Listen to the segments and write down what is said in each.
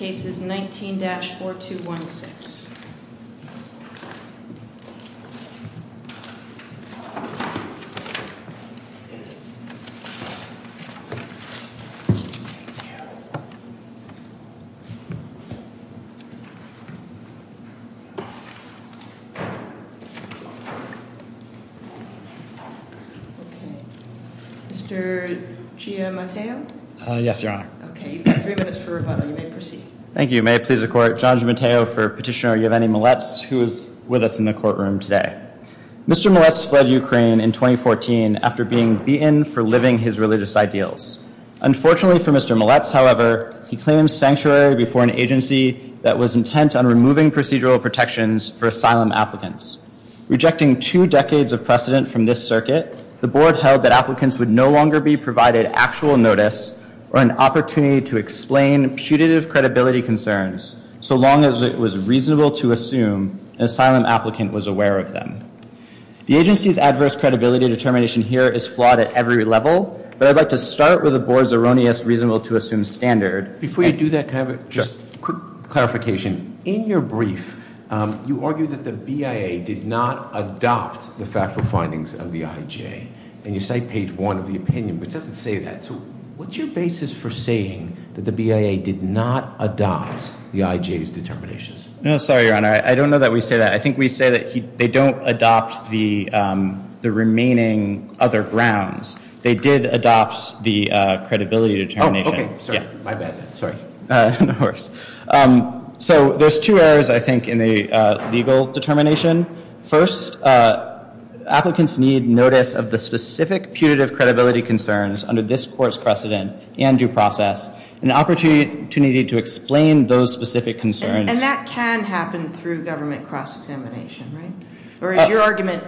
Cases 19-4216 Mr. Giamatteo? Yes, Your Honor. Okay, you've got three minutes for rebuttal. You may proceed. Thank you. May it please the Court. John Giamatteo for Petitioner Giovanni Malets, who is with us in the courtroom today. Mr. Malets fled Ukraine in 2014 after being beaten for living his religious ideals. Unfortunately for Mr. Malets, however, he claimed sanctuary before an agency that was intent on removing procedural protections for asylum applicants. Rejecting two decades of precedent from this circuit, the Board held that applicants would no longer be provided actual notice or an opportunity to explain putative credibility concerns, so long as it was reasonable to assume an asylum applicant was aware of them. The agency's adverse credibility determination here is flawed at every level, but I'd like to start with the Board's erroneous reasonable-to-assume standard. Before you do that, can I have just a quick clarification? In your brief, you argue that the BIA did not adopt the factual findings of the IJ. And you cite page one of the opinion, which doesn't say that. So what's your basis for saying that the BIA did not adopt the IJ's determinations? No, sorry, Your Honor. I don't know that we say that. I think we say that they don't adopt the remaining other grounds. They did adopt the credibility determination. Okay, sorry. My bad. Sorry. No worries. So there's two errors, I think, in the legal determination. First, applicants need notice of the specific putative credibility concerns under this court's precedent and due process and an opportunity to explain those specific concerns. And that can happen through government cross-examination, right? Or is your argument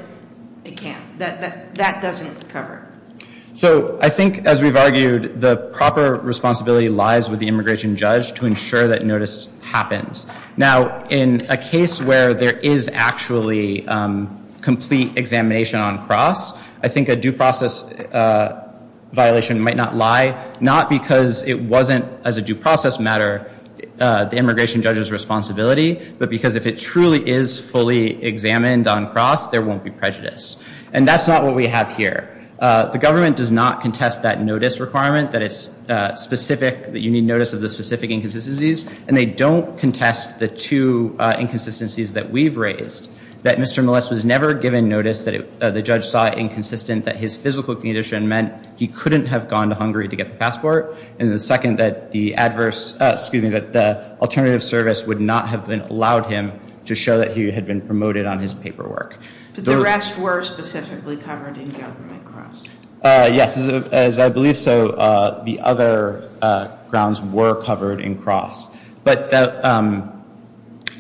it can't? That that doesn't cover it? So I think, as we've argued, the proper responsibility lies with the immigration judge to ensure that notice happens. Now, in a case where there is actually complete examination on cross, I think a due process violation might not lie, not because it wasn't, as a due process matter, the immigration judge's responsibility, but because if it truly is fully examined on cross, there won't be prejudice. And that's not what we have here. The government does not contest that notice requirement, that it's specific, that you need notice of the specific inconsistencies. And they don't contest the two inconsistencies that we've raised, that Mr. Millis was never given notice that the judge saw inconsistent, that his physical condition meant he couldn't have gone to Hungary to get the passport, and the second, that the alternative service would not have allowed him to show that he had been promoted on his paperwork. But the rest were specifically covered in government cross? Yes. As I believe so, the other grounds were covered in cross. But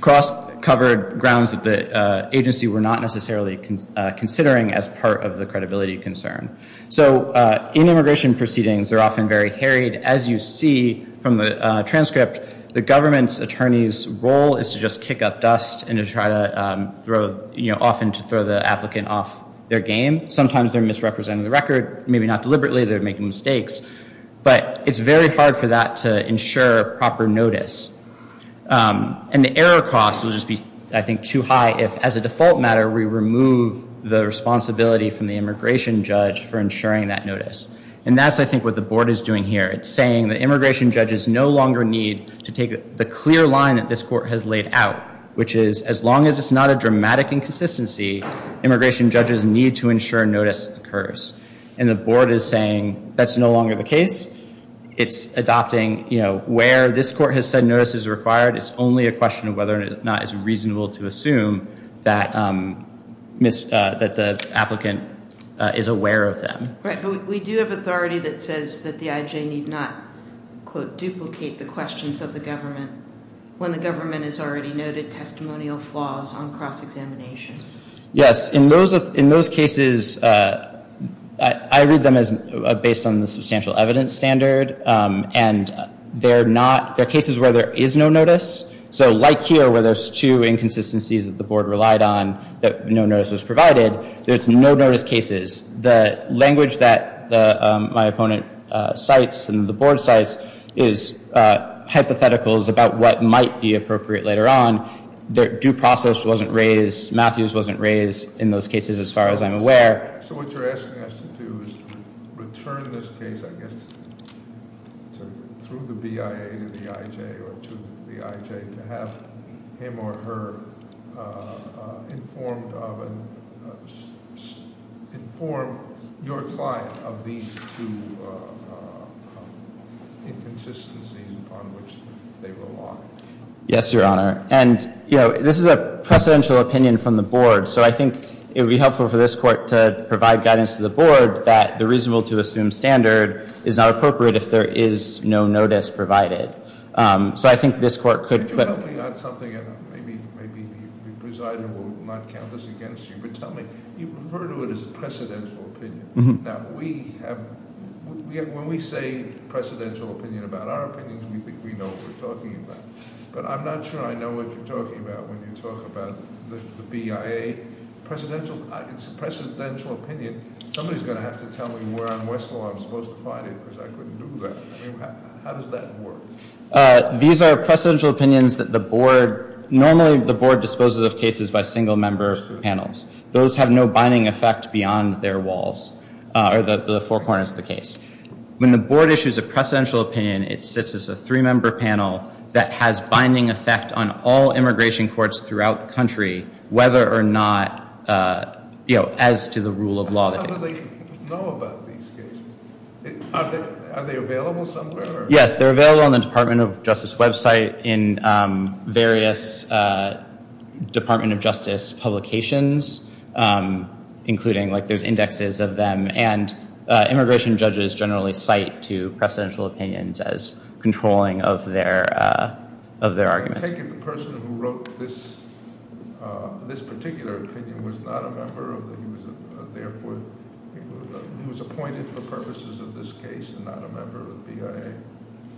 cross covered grounds that the agency were not necessarily considering as part of the credibility concern. So in immigration proceedings, they're often very harried. As you see from the transcript, the government's attorney's role is to just kick up dust and to try to throw, you know, often to throw the applicant off their game. Sometimes they're misrepresenting the record, maybe not deliberately, they're making mistakes. But it's very hard for that to ensure proper notice. And the error cost will just be, I think, too high if, as a default matter, we remove the responsibility from the immigration judge for ensuring that notice. And that's, I think, what the board is doing here. It's saying that immigration judges no longer need to take the clear line that this court has laid out, which is as long as it's not a dramatic inconsistency, immigration judges need to ensure notice occurs. And the board is saying that's no longer the case. It's adopting, you know, where this court has said notice is required, it's only a question of whether or not it's reasonable to assume that the applicant is aware of them. Right. But we do have authority that says that the IJ need not, quote, duplicate the questions of the government when the government has already noted testimonial flaws on cross-examination. Yes. In those cases, I read them as based on the substantial evidence standard. And they're cases where there is no notice. So like here where there's two inconsistencies that the board relied on that no notice was provided, there's no notice cases. The language that my opponent cites and the board cites is hypotheticals about what might be appropriate later on. Their due process wasn't raised, Matthews wasn't raised in those cases as far as I'm aware. So what you're asking us to do is return this case, I guess, through the BIA to the IJ or to the IJ to have him or her inform your client of these two inconsistencies on which they rely. Yes, Your Honor. And this is a precedential opinion from the board. So I think it would be helpful for this court to provide guidance to the board that the reasonable to assume standard is not appropriate if there is no notice provided. So I think this court could- Could you help me on something? Maybe the presider will not count this against you, but tell me, you refer to it as a precedential opinion. Now, when we say precedential opinion about our opinions, we think we know what we're talking about. But I'm not sure I know what you're talking about when you talk about the BIA. It's a precedential opinion. Somebody's going to have to tell me where on Westlaw I'm supposed to find it because I couldn't do that. How does that work? These are precedential opinions that the board- Normally, the board disposes of cases by single-member panels. Those have no binding effect beyond their walls or the four corners of the case. When the board issues a precedential opinion, it sits as a three-member panel that has binding effect on all immigration courts throughout the country, whether or not, you know, as to the rule of law. How do they know about these cases? Are they available somewhere? Yes, they're available on the Department of Justice website in various Department of Justice publications, including, like, there's indexes of them. And immigration judges generally cite to precedential opinions as controlling of their arguments. I take it the person who wrote this particular opinion was not a member of the- He was appointed for purposes of this case and not a member of the BIA?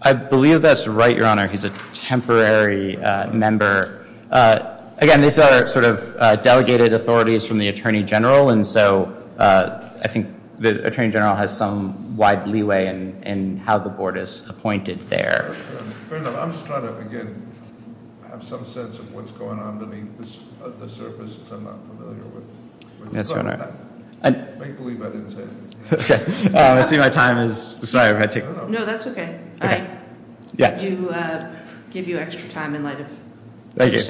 I believe that's right, Your Honor. He's a temporary member. Again, these are sort of delegated authorities from the Attorney General, and so I think the Attorney General has some wide leeway in how the board is appointed there. Fair enough. I'm just trying to, again, have some sense of what's going on beneath the surface, because I'm not familiar with- Yes, Your Honor. I believe I didn't say anything. Okay. I see my time is- Sorry if I took- No, that's okay. I do give you extra time in light of- Thank you.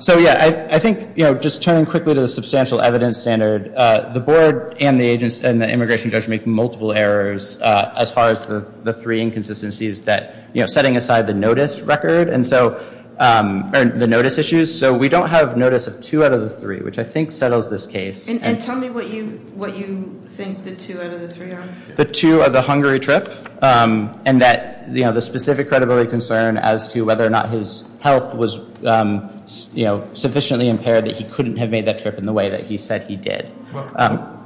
So, yeah, I think, you know, just turning quickly to the substantial evidence standard, the board and the immigration judge make multiple errors, as far as the three inconsistencies that, you know, setting aside the notice record and so- or the notice issues. So we don't have notice of two out of the three, which I think settles this case. And tell me what you think the two out of the three are. The two are the Hungary trip and that, you know, the specific credibility concern as to whether or not his health was, you know, sufficiently impaired that he couldn't have made that trip in the way that he said he did.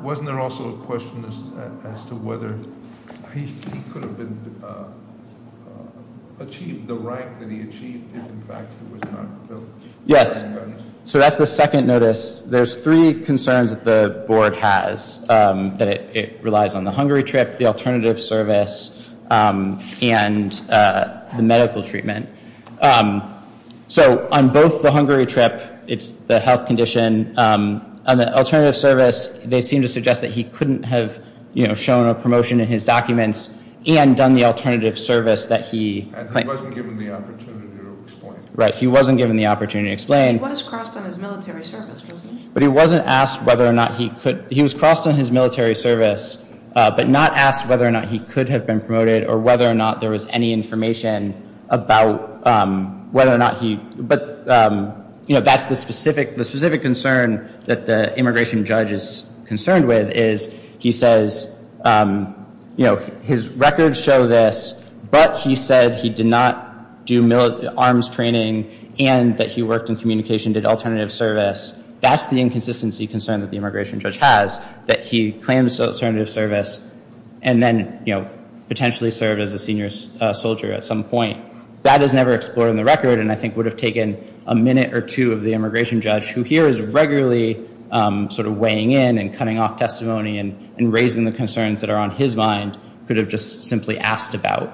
Wasn't there also a question as to whether he could have been- achieved the rank that he achieved if, in fact, he was not billed? Yes. So that's the second notice. There's three concerns that the board has, that it relies on the Hungary trip, the alternative service, and the medical treatment. So on both the Hungary trip, it's the health condition. On the alternative service, they seem to suggest that he couldn't have, you know, shown a promotion in his documents and done the alternative service that he- And he wasn't given the opportunity to explain. Right. He wasn't given the opportunity to explain. He was crossed on his military service, wasn't he? But he wasn't asked whether or not he could- he was crossed on his military service, but not asked whether or not he could have been promoted or whether or not there was any information about whether or not he- But, you know, that's the specific concern that the immigration judge is concerned with, is he says, you know, his records show this, but he said he did not do military- arms training and that he worked in communication, did alternative service. That's the inconsistency concern that the immigration judge has, that he claims alternative service and then, you know, potentially served as a senior soldier at some point. That is never explored in the record and I think would have taken a minute or two of the immigration judge, who here is regularly sort of weighing in and cutting off testimony and raising the concerns that are on his mind, could have just simply asked about.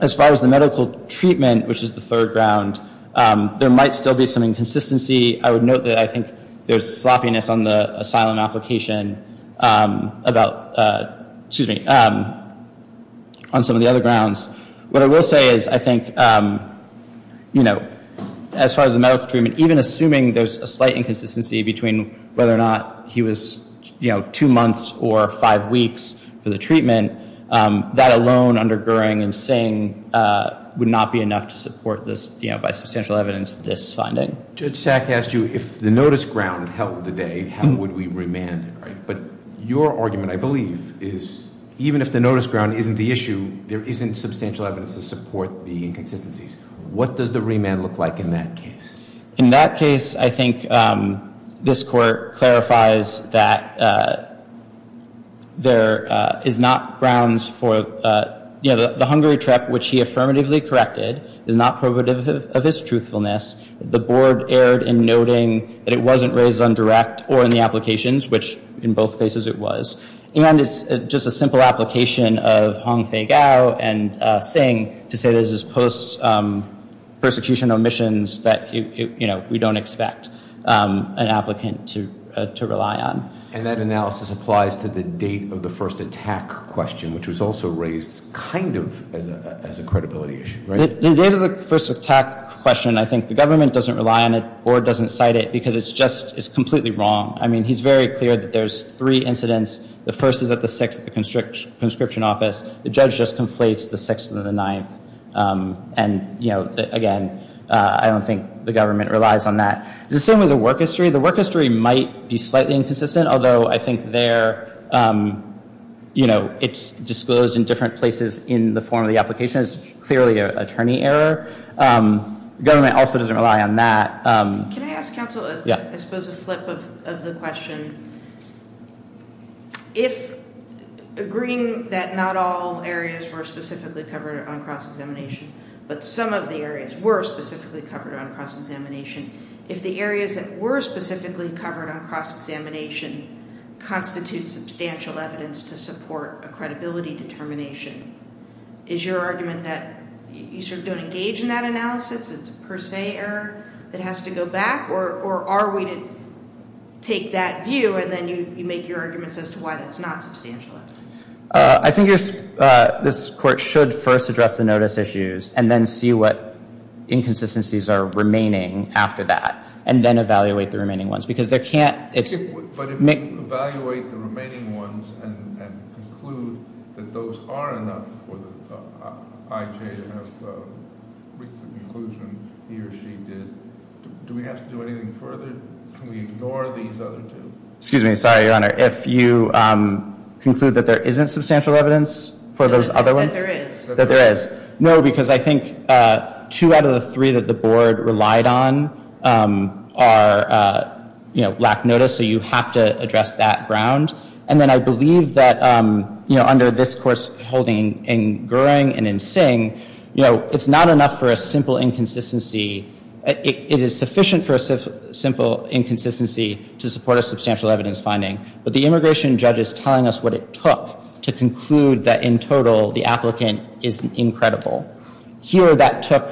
As far as the medical treatment, which is the third ground, there might still be some inconsistency. I would note that I think there's sloppiness on the asylum application about- excuse me, on some of the other grounds. What I will say is I think, you know, as far as the medical treatment, even assuming there's a slight inconsistency between whether or not he was, you know, two months or five weeks for the treatment, that alone under Goering and Singh would not be enough to support this, you know, by substantial evidence, this finding. Judge Sack asked you if the notice ground held the day, how would we remand it, right? But your argument, I believe, is even if the notice ground isn't the issue, there isn't substantial evidence to support the inconsistencies. What does the remand look like in that case? In that case, I think this court clarifies that there is not grounds for, you know, the Hungary trip, which he affirmatively corrected, is not probative of his truthfulness. The board erred in noting that it wasn't raised on direct or in the applications, which in both cases it was. And it's just a simple application of Hong Fei Gao and Singh to say this is post-persecution omissions that, you know, we don't expect an applicant to rely on. And that analysis applies to the date of the first attack question, which was also raised kind of as a credibility issue, right? The date of the first attack question, I think the government doesn't rely on it or doesn't cite it because it's just completely wrong. I mean, he's very clear that there's three incidents. The first is at the 6th at the conscription office. The judge just conflates the 6th and the 9th. And, you know, again, I don't think the government relies on that. It's the same with the work history. The work history might be slightly inconsistent, although I think there, you know, it's disclosed in different places in the form of the application. It's clearly an attorney error. Government also doesn't rely on that. Can I ask counsel, I suppose, a flip of the question. If agreeing that not all areas were specifically covered on cross-examination, but some of the areas were specifically covered on cross-examination, if the areas that were specifically covered on cross-examination constitute substantial evidence to support a credibility determination, is your argument that you sort of don't engage in that analysis, it's a per se error that has to go back, or are we to take that view and then you make your arguments as to why that's not substantial evidence? I think this court should first address the notice issues and then see what inconsistencies are remaining after that. And then evaluate the remaining ones. But if you evaluate the remaining ones and conclude that those are enough for the IJ to have reached the conclusion he or she did, do we have to do anything further? Can we ignore these other two? Excuse me. Sorry, Your Honor. If you conclude that there isn't substantial evidence for those other ones? That there is. That there is. No, because I think two out of the three that the board relied on lack notice, so you have to address that ground. And then I believe that under this court's holding in Goring and in Singh, it's not enough for a simple inconsistency. It is sufficient for a simple inconsistency to support a substantial evidence finding. But the immigration judge is telling us what it took to conclude that, in total, the applicant is incredible. Here that took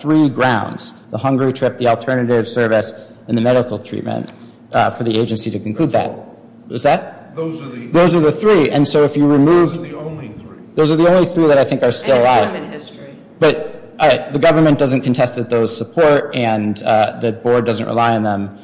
three grounds, the hungry trip, the alternative service, and the medical treatment for the agency to conclude that. Those are the three. Those are the only three. Those are the only three that I think are still alive. But the government doesn't contest those support and the board doesn't rely on them.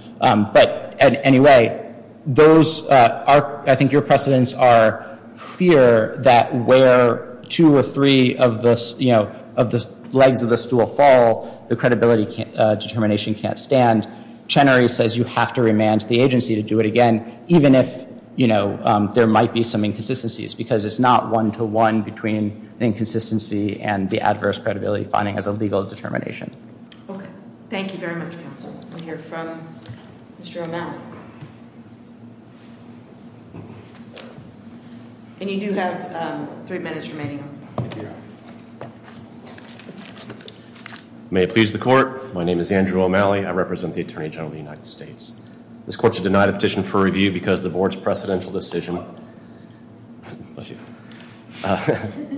Anyway, I think your precedents are clear that where two or three of the legs of the stool fall, the credibility determination can't stand. Chenery says you have to remand the agency to do it again, even if there might be some inconsistencies, because it's not one-to-one between the inconsistency and the adverse credibility finding as a legal determination. Okay. Thank you very much, counsel. We'll hear from Mr. O'Malley. And you do have three minutes remaining. May it please the court. My name is Andrew O'Malley. I represent the Attorney General of the United States. This court should deny the petition for review because the board's precedential decision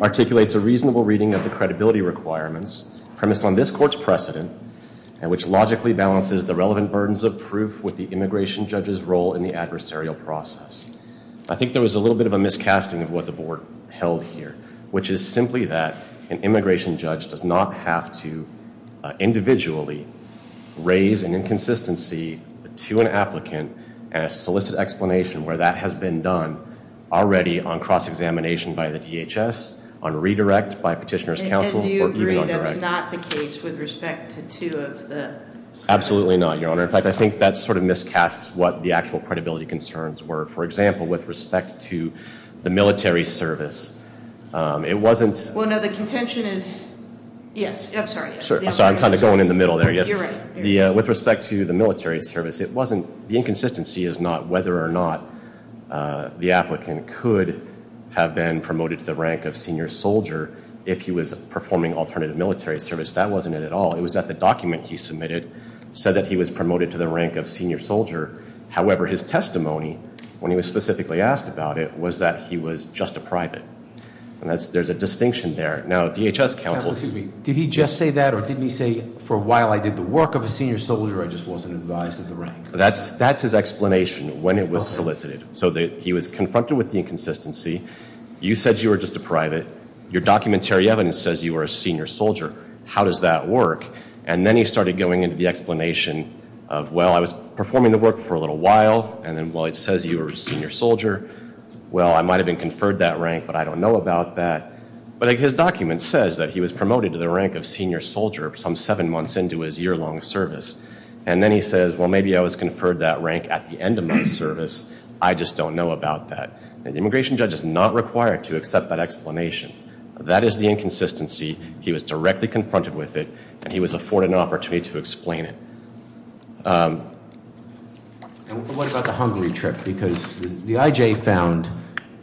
articulates a reasonable reading of the credibility requirements premised on this court's precedent and which logically balances the relevant burdens of proof with the immigration judge's role in the adversarial process. I think there was a little bit of a miscasting of what the board held here, which is simply that an immigration judge does not have to individually raise an inconsistency to an applicant and a solicit explanation where that has been done already on cross-examination by the DHS, on redirect by petitioner's counsel, or even on direct. That is not the case with respect to two of the- Absolutely not, Your Honor. In fact, I think that sort of miscasts what the actual credibility concerns were. For example, with respect to the military service, it wasn't- Well, no, the contention is- Yes, I'm sorry. I'm sorry. I'm kind of going in the middle there, yes. You're right. With respect to the military service, the inconsistency is not whether or not the applicant could have been promoted to the rank of senior soldier if he was performing alternative military service. That wasn't it at all. It was that the document he submitted said that he was promoted to the rank of senior soldier. However, his testimony, when he was specifically asked about it, was that he was just a private. And there's a distinction there. Now, DHS counsel- Counsel, excuse me. Did he just say that, or didn't he say, for a while I did the work of a senior soldier, I just wasn't advised of the rank? That's his explanation when it was solicited. So he was confronted with the inconsistency. You said you were just a private. Your documentary evidence says you were a senior soldier. How does that work? And then he started going into the explanation of, well, I was performing the work for a little while, and then, well, it says you were a senior soldier. Well, I might have been conferred that rank, but I don't know about that. But his document says that he was promoted to the rank of senior soldier some seven months into his year-long service. And then he says, well, maybe I was conferred that rank at the end of my service. I just don't know about that. An immigration judge is not required to accept that explanation. That is the inconsistency. He was directly confronted with it, and he was afforded an opportunity to explain it. What about the Hungary trip? Because the IJ found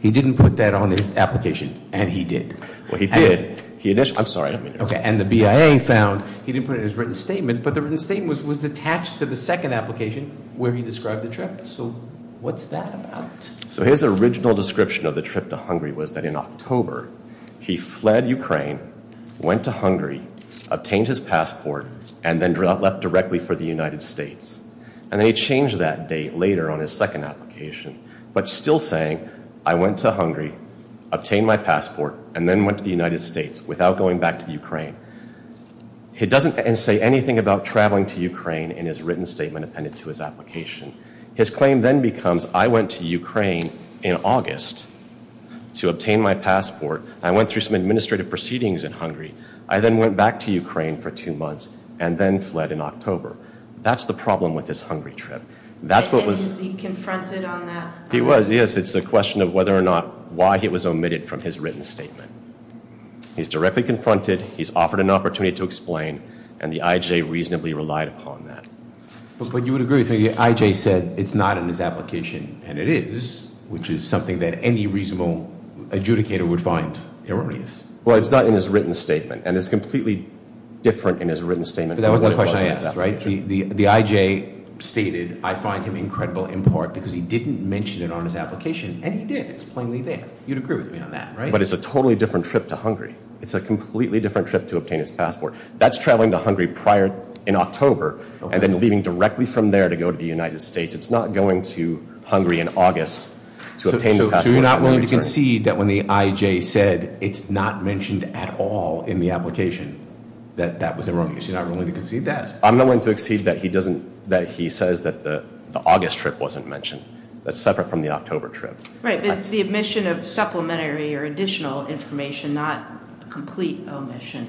he didn't put that on his application, and he did. Well, he did. He initially- I'm sorry. Okay, and the BIA found he didn't put it in his written statement, but the written statement was attached to the second application where he described the trip. So what's that about? So his original description of the trip to Hungary was that in October he fled Ukraine, went to Hungary, obtained his passport, and then left directly for the United States. And then he changed that date later on his second application, but still saying, I went to Hungary, obtained my passport, and then went to the United States without going back to Ukraine. He doesn't say anything about traveling to Ukraine in his written statement appended to his application. His claim then becomes, I went to Ukraine in August to obtain my passport. I went through some administrative proceedings in Hungary. I then went back to Ukraine for two months and then fled in October. That's the problem with his Hungary trip. That's what was- And was he confronted on that? He was, yes. It's a question of whether or not why it was omitted from his written statement. He's directly confronted. He's offered an opportunity to explain, and the IJ reasonably relied upon that. But you would agree that the IJ said it's not in his application, and it is, which is something that any reasonable adjudicator would find erroneous. Well, it's not in his written statement, and it's completely different in his written statement. That was the question I asked, right? The IJ stated, I find him incredible in part because he didn't mention it on his application, and he did. It's plainly there. You'd agree with me on that, right? But it's a totally different trip to Hungary. It's a completely different trip to obtain his passport. That's traveling to Hungary prior in October, and then leaving directly from there to go to the United States. It's not going to Hungary in August to obtain the passport. So you're not willing to concede that when the IJ said it's not mentioned at all in the application that that was erroneous? You're not willing to concede that? I'm not willing to concede that he says that the August trip wasn't mentioned. That's separate from the October trip. Right, but it's the omission of supplementary or additional information, not complete omission.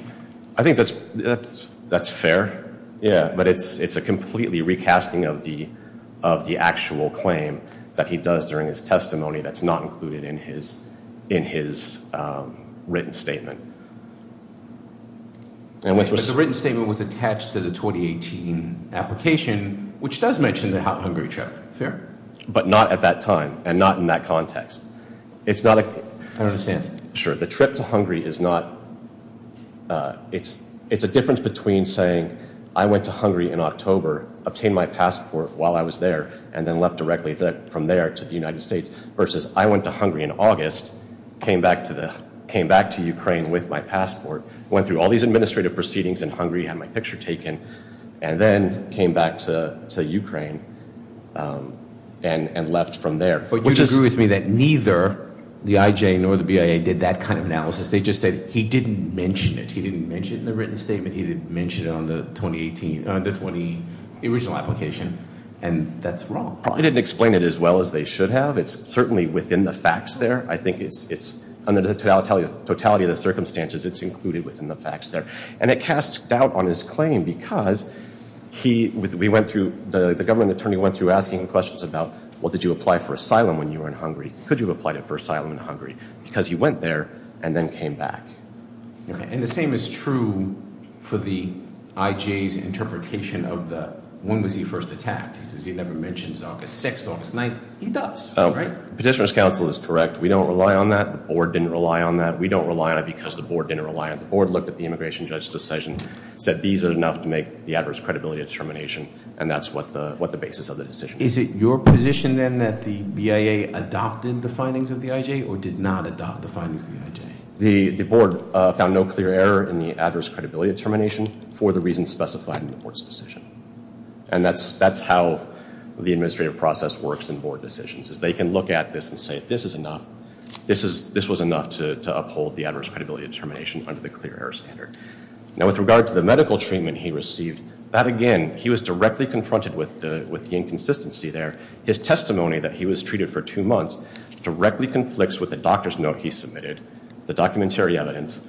I think that's fair, yeah. But it's a completely recasting of the actual claim that he does during his testimony that's not included in his written statement. But the written statement was attached to the 2018 application, which does mention the Hungary trip. Fair? But not at that time, and not in that context. I don't understand. Sure, the trip to Hungary is not – it's a difference between saying I went to Hungary in October, obtained my passport while I was there, and then left directly from there to the United States, versus I went to Hungary in August, came back to Ukraine with my passport, went through all these administrative proceedings in Hungary, had my picture taken, and then came back to Ukraine and left from there. But you'd agree with me that neither the IJ nor the BIA did that kind of analysis. They just said he didn't mention it. He didn't mention it in the written statement. He didn't mention it on the original application, and that's wrong. I didn't explain it as well as they should have. It's certainly within the facts there. I think it's, under the totality of the circumstances, it's included within the facts there. And it casts doubt on his claim because we went through, the government attorney went through asking questions about, well, did you apply for asylum when you were in Hungary? Could you have applied for asylum in Hungary? Because he went there and then came back. And the same is true for the IJ's interpretation of the, when was he first attacked? He says he never mentions August 6th, August 9th. He does, right? Petitioner's counsel is correct. We don't rely on that. The board didn't rely on that. We don't rely on it because the board didn't rely on it. The board looked at the immigration judge's decision, said these are enough to make the adverse credibility determination, and that's what the basis of the decision is. Is it your position, then, that the BIA adopted the findings of the IJ or did not adopt the findings of the IJ? The board found no clear error in the adverse credibility determination for the reasons specified in the board's decision. And that's how the administrative process works in board decisions, is they can look at this and say, this is enough. This was enough to uphold the adverse credibility determination under the clear error standard. Now, with regard to the medical treatment he received, that, again, he was directly confronted with the inconsistency there. His testimony that he was treated for two months directly conflicts with the doctor's note he submitted, the documentary evidence,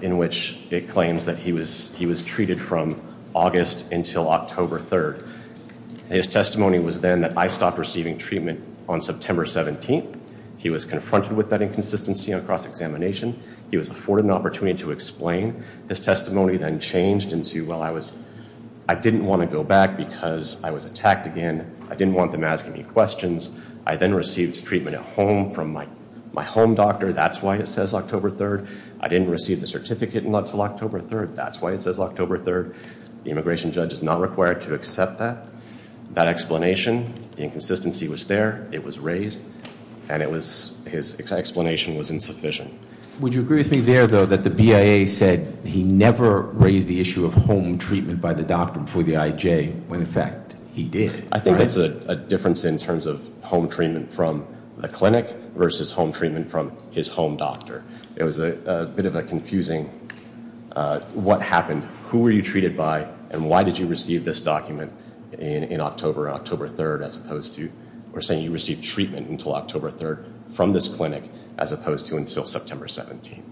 in which it claims that he was treated from August until October 3rd. His testimony was then that I stopped receiving treatment on September 17th. He was confronted with that inconsistency on cross-examination. He was afforded an opportunity to explain. His testimony then changed into, well, I didn't want to go back because I was attacked again. I didn't want them asking me questions. I then received treatment at home from my home doctor. That's why it says October 3rd. I didn't receive the certificate until October 3rd. That's why it says October 3rd. The immigration judge is not required to accept that. That explanation, the inconsistency was there. It was raised, and his explanation was insufficient. Would you agree with me there, though, that the BIA said he never raised the issue of home treatment by the doctor before the IJ when, in fact, he did? I think that's a difference in terms of home treatment from the clinic versus home treatment from his home doctor. It was a bit of a confusing what happened, who were you treated by, and why did you receive this document in October or October 3rd as opposed to We're saying you received treatment until October 3rd from this clinic as opposed to until September 17th.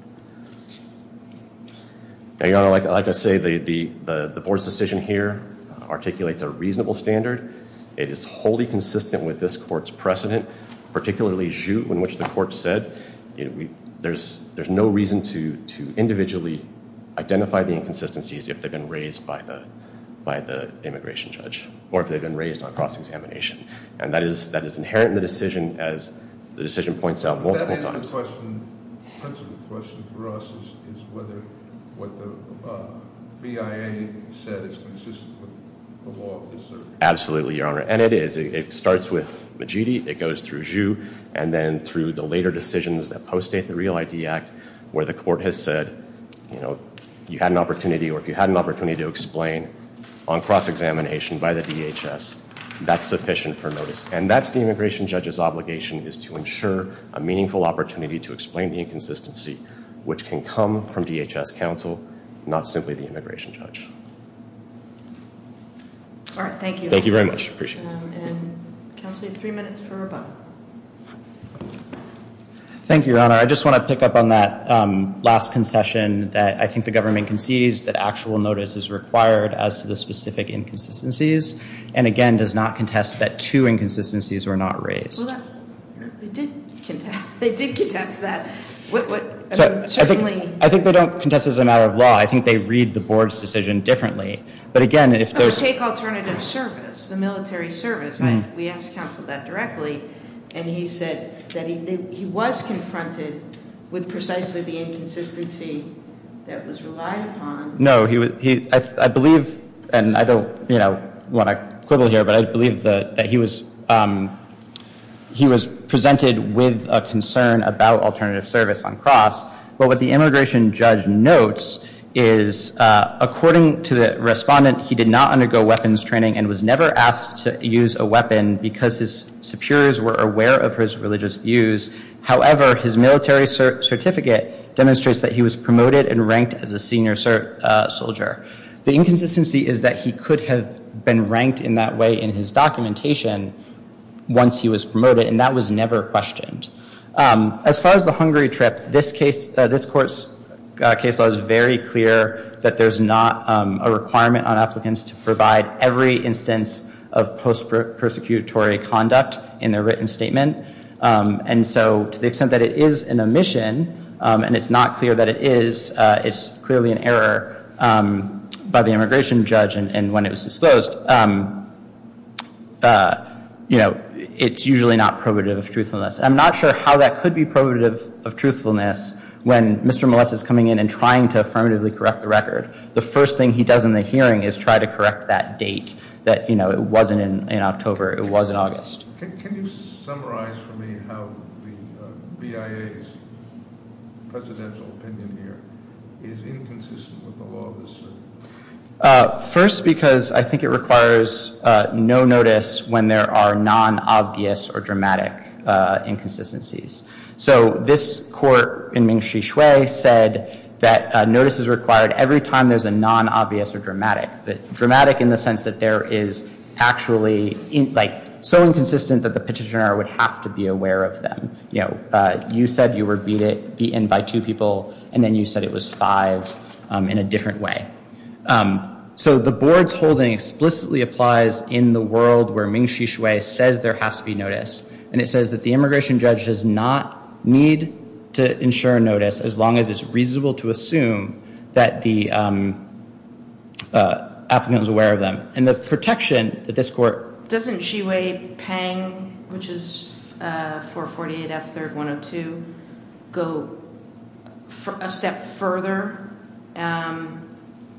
Like I say, the board's decision here articulates a reasonable standard. It is wholly consistent with this court's precedent, particularly jute, in which the court said there's no reason to individually identify the inconsistencies if they've been raised by the immigration judge or if they've been raised on cross-examination. And that is inherent in the decision, as the decision points out multiple times. Does that answer the question, the principal question for us, is whether what the BIA said is consistent with the law of this circuit? Absolutely, Your Honor, and it is. It starts with Majidi, it goes through Ju, and then through the later decisions that post-date the Real ID Act where the court has said you had an opportunity or if you had an opportunity to explain on cross-examination by the DHS, that's sufficient for notice. And that's the immigration judge's obligation is to ensure a meaningful opportunity to explain the inconsistency which can come from DHS counsel, not simply the immigration judge. All right, thank you. Thank you very much. Appreciate it. And counsel, you have three minutes for rebuttal. Thank you, Your Honor. I just want to pick up on that last concession that I think the government concedes that actual notice is required as to the specific inconsistencies. And again, does not contest that two inconsistencies were not raised. They did contest that. I think they don't contest it as a matter of law. I think they read the board's decision differently. But again, if there's Take alternative service, the military service. We asked counsel that directly. And he said that he was confronted with precisely the inconsistency that was relied upon. No, I believe, and I don't want to quibble here, but I believe that he was presented with a concern about alternative service on cross. But what the immigration judge notes is, according to the respondent, he did not undergo weapons training and was never asked to use a weapon because his superiors were aware of his religious views. However, his military certificate demonstrates that he was promoted and ranked as a senior soldier. The inconsistency is that he could have been ranked in that way in his documentation once he was promoted. And that was never questioned. As far as the Hungary trip, this court's case law is very clear that there's not a requirement on applicants to provide every instance of post-prosecutory conduct in their written statement. And so to the extent that it is an omission and it's not clear that it is, it's clearly an error by the immigration judge. And when it was disclosed, it's usually not probative of truthfulness. I'm not sure how that could be probative of truthfulness when Mr. Moless is coming in and trying to affirmatively correct the record. The first thing he does in the hearing is try to correct that date that it wasn't in October, it was in August. Can you summarize for me how the BIA's presidential opinion here is inconsistent with the law of the circuit? First, because I think it requires no notice when there are non-obvious or dramatic inconsistencies. So this court in Mingxi Xue said that notice is required every time there's a non-obvious or dramatic. Dramatic in the sense that there is actually so inconsistent that the petitioner would have to be aware of them. You said you were beaten by two people and then you said it was five in a different way. So the board's holding explicitly applies in the world where Mingxi Xue says there has to be notice. And it says that the immigration judge does not need to ensure notice as long as it's reasonable to assume that the applicant was aware of them. And the protection that this court- Doesn't Xue Peng, which is 448F3-102, go a step further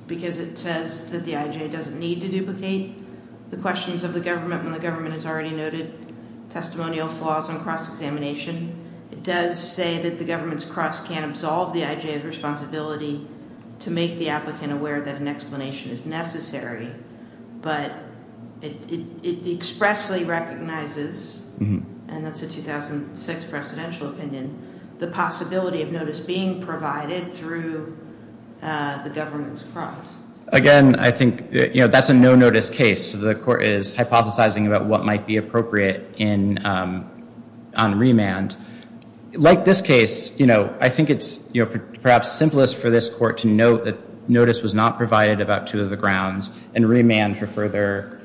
because it says that the IJ doesn't need to duplicate the questions of the government when the government has already noted testimonial flaws on cross-examination? It does say that the government's cross can't absolve the IJ of the responsibility to make the applicant aware that an explanation is necessary. But it expressly recognizes, and that's a 2006 presidential opinion, the possibility of notice being provided through the government's cross. Again, I think that's a no-notice case. The court is hypothesizing about what might be appropriate on remand. Like this case, I think it's perhaps simplest for this court to note that notice was not provided about two of the grounds and remand for further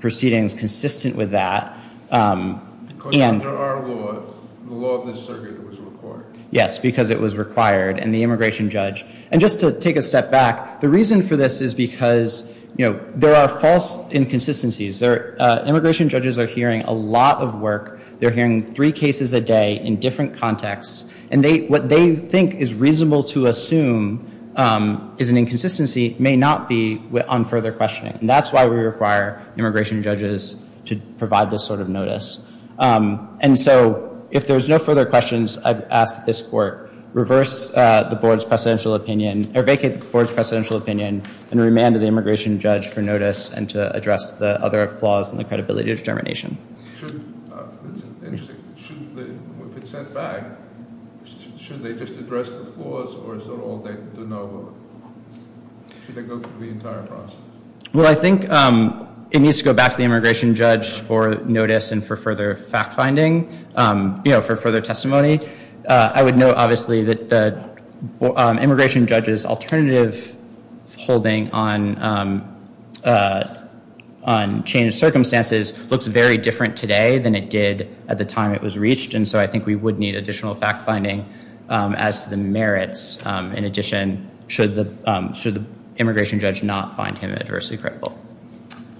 proceedings consistent with that. Because under our law, the law of this circuit was required. Yes, because it was required. And just to take a step back, the reason for this is because there are false inconsistencies. Immigration judges are hearing a lot of work. They're hearing three cases a day in different contexts. And what they think is reasonable to assume is an inconsistency may not be on further questioning. And that's why we require immigration judges to provide this sort of notice. And so if there's no further questions, I'd ask that this court reverse the board's presidential opinion, or vacate the board's presidential opinion, and remand the immigration judge for notice and to address the other flaws in the credibility determination. It's interesting. If it's sent back, should they just address the flaws, or is that all they do know about it? Should they go through the entire process? Well, I think it needs to go back to the immigration judge for notice and for further fact-finding, you know, for further testimony. I would note, obviously, that the immigration judge's alternative holding on changed circumstances looks very different today than it did at the time it was reached. And so I think we would need additional fact-finding as to the merits. In addition, should the immigration judge not find him adversely credible?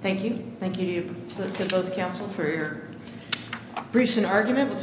Thank you. Thank you to both counsel for your briefs and argument.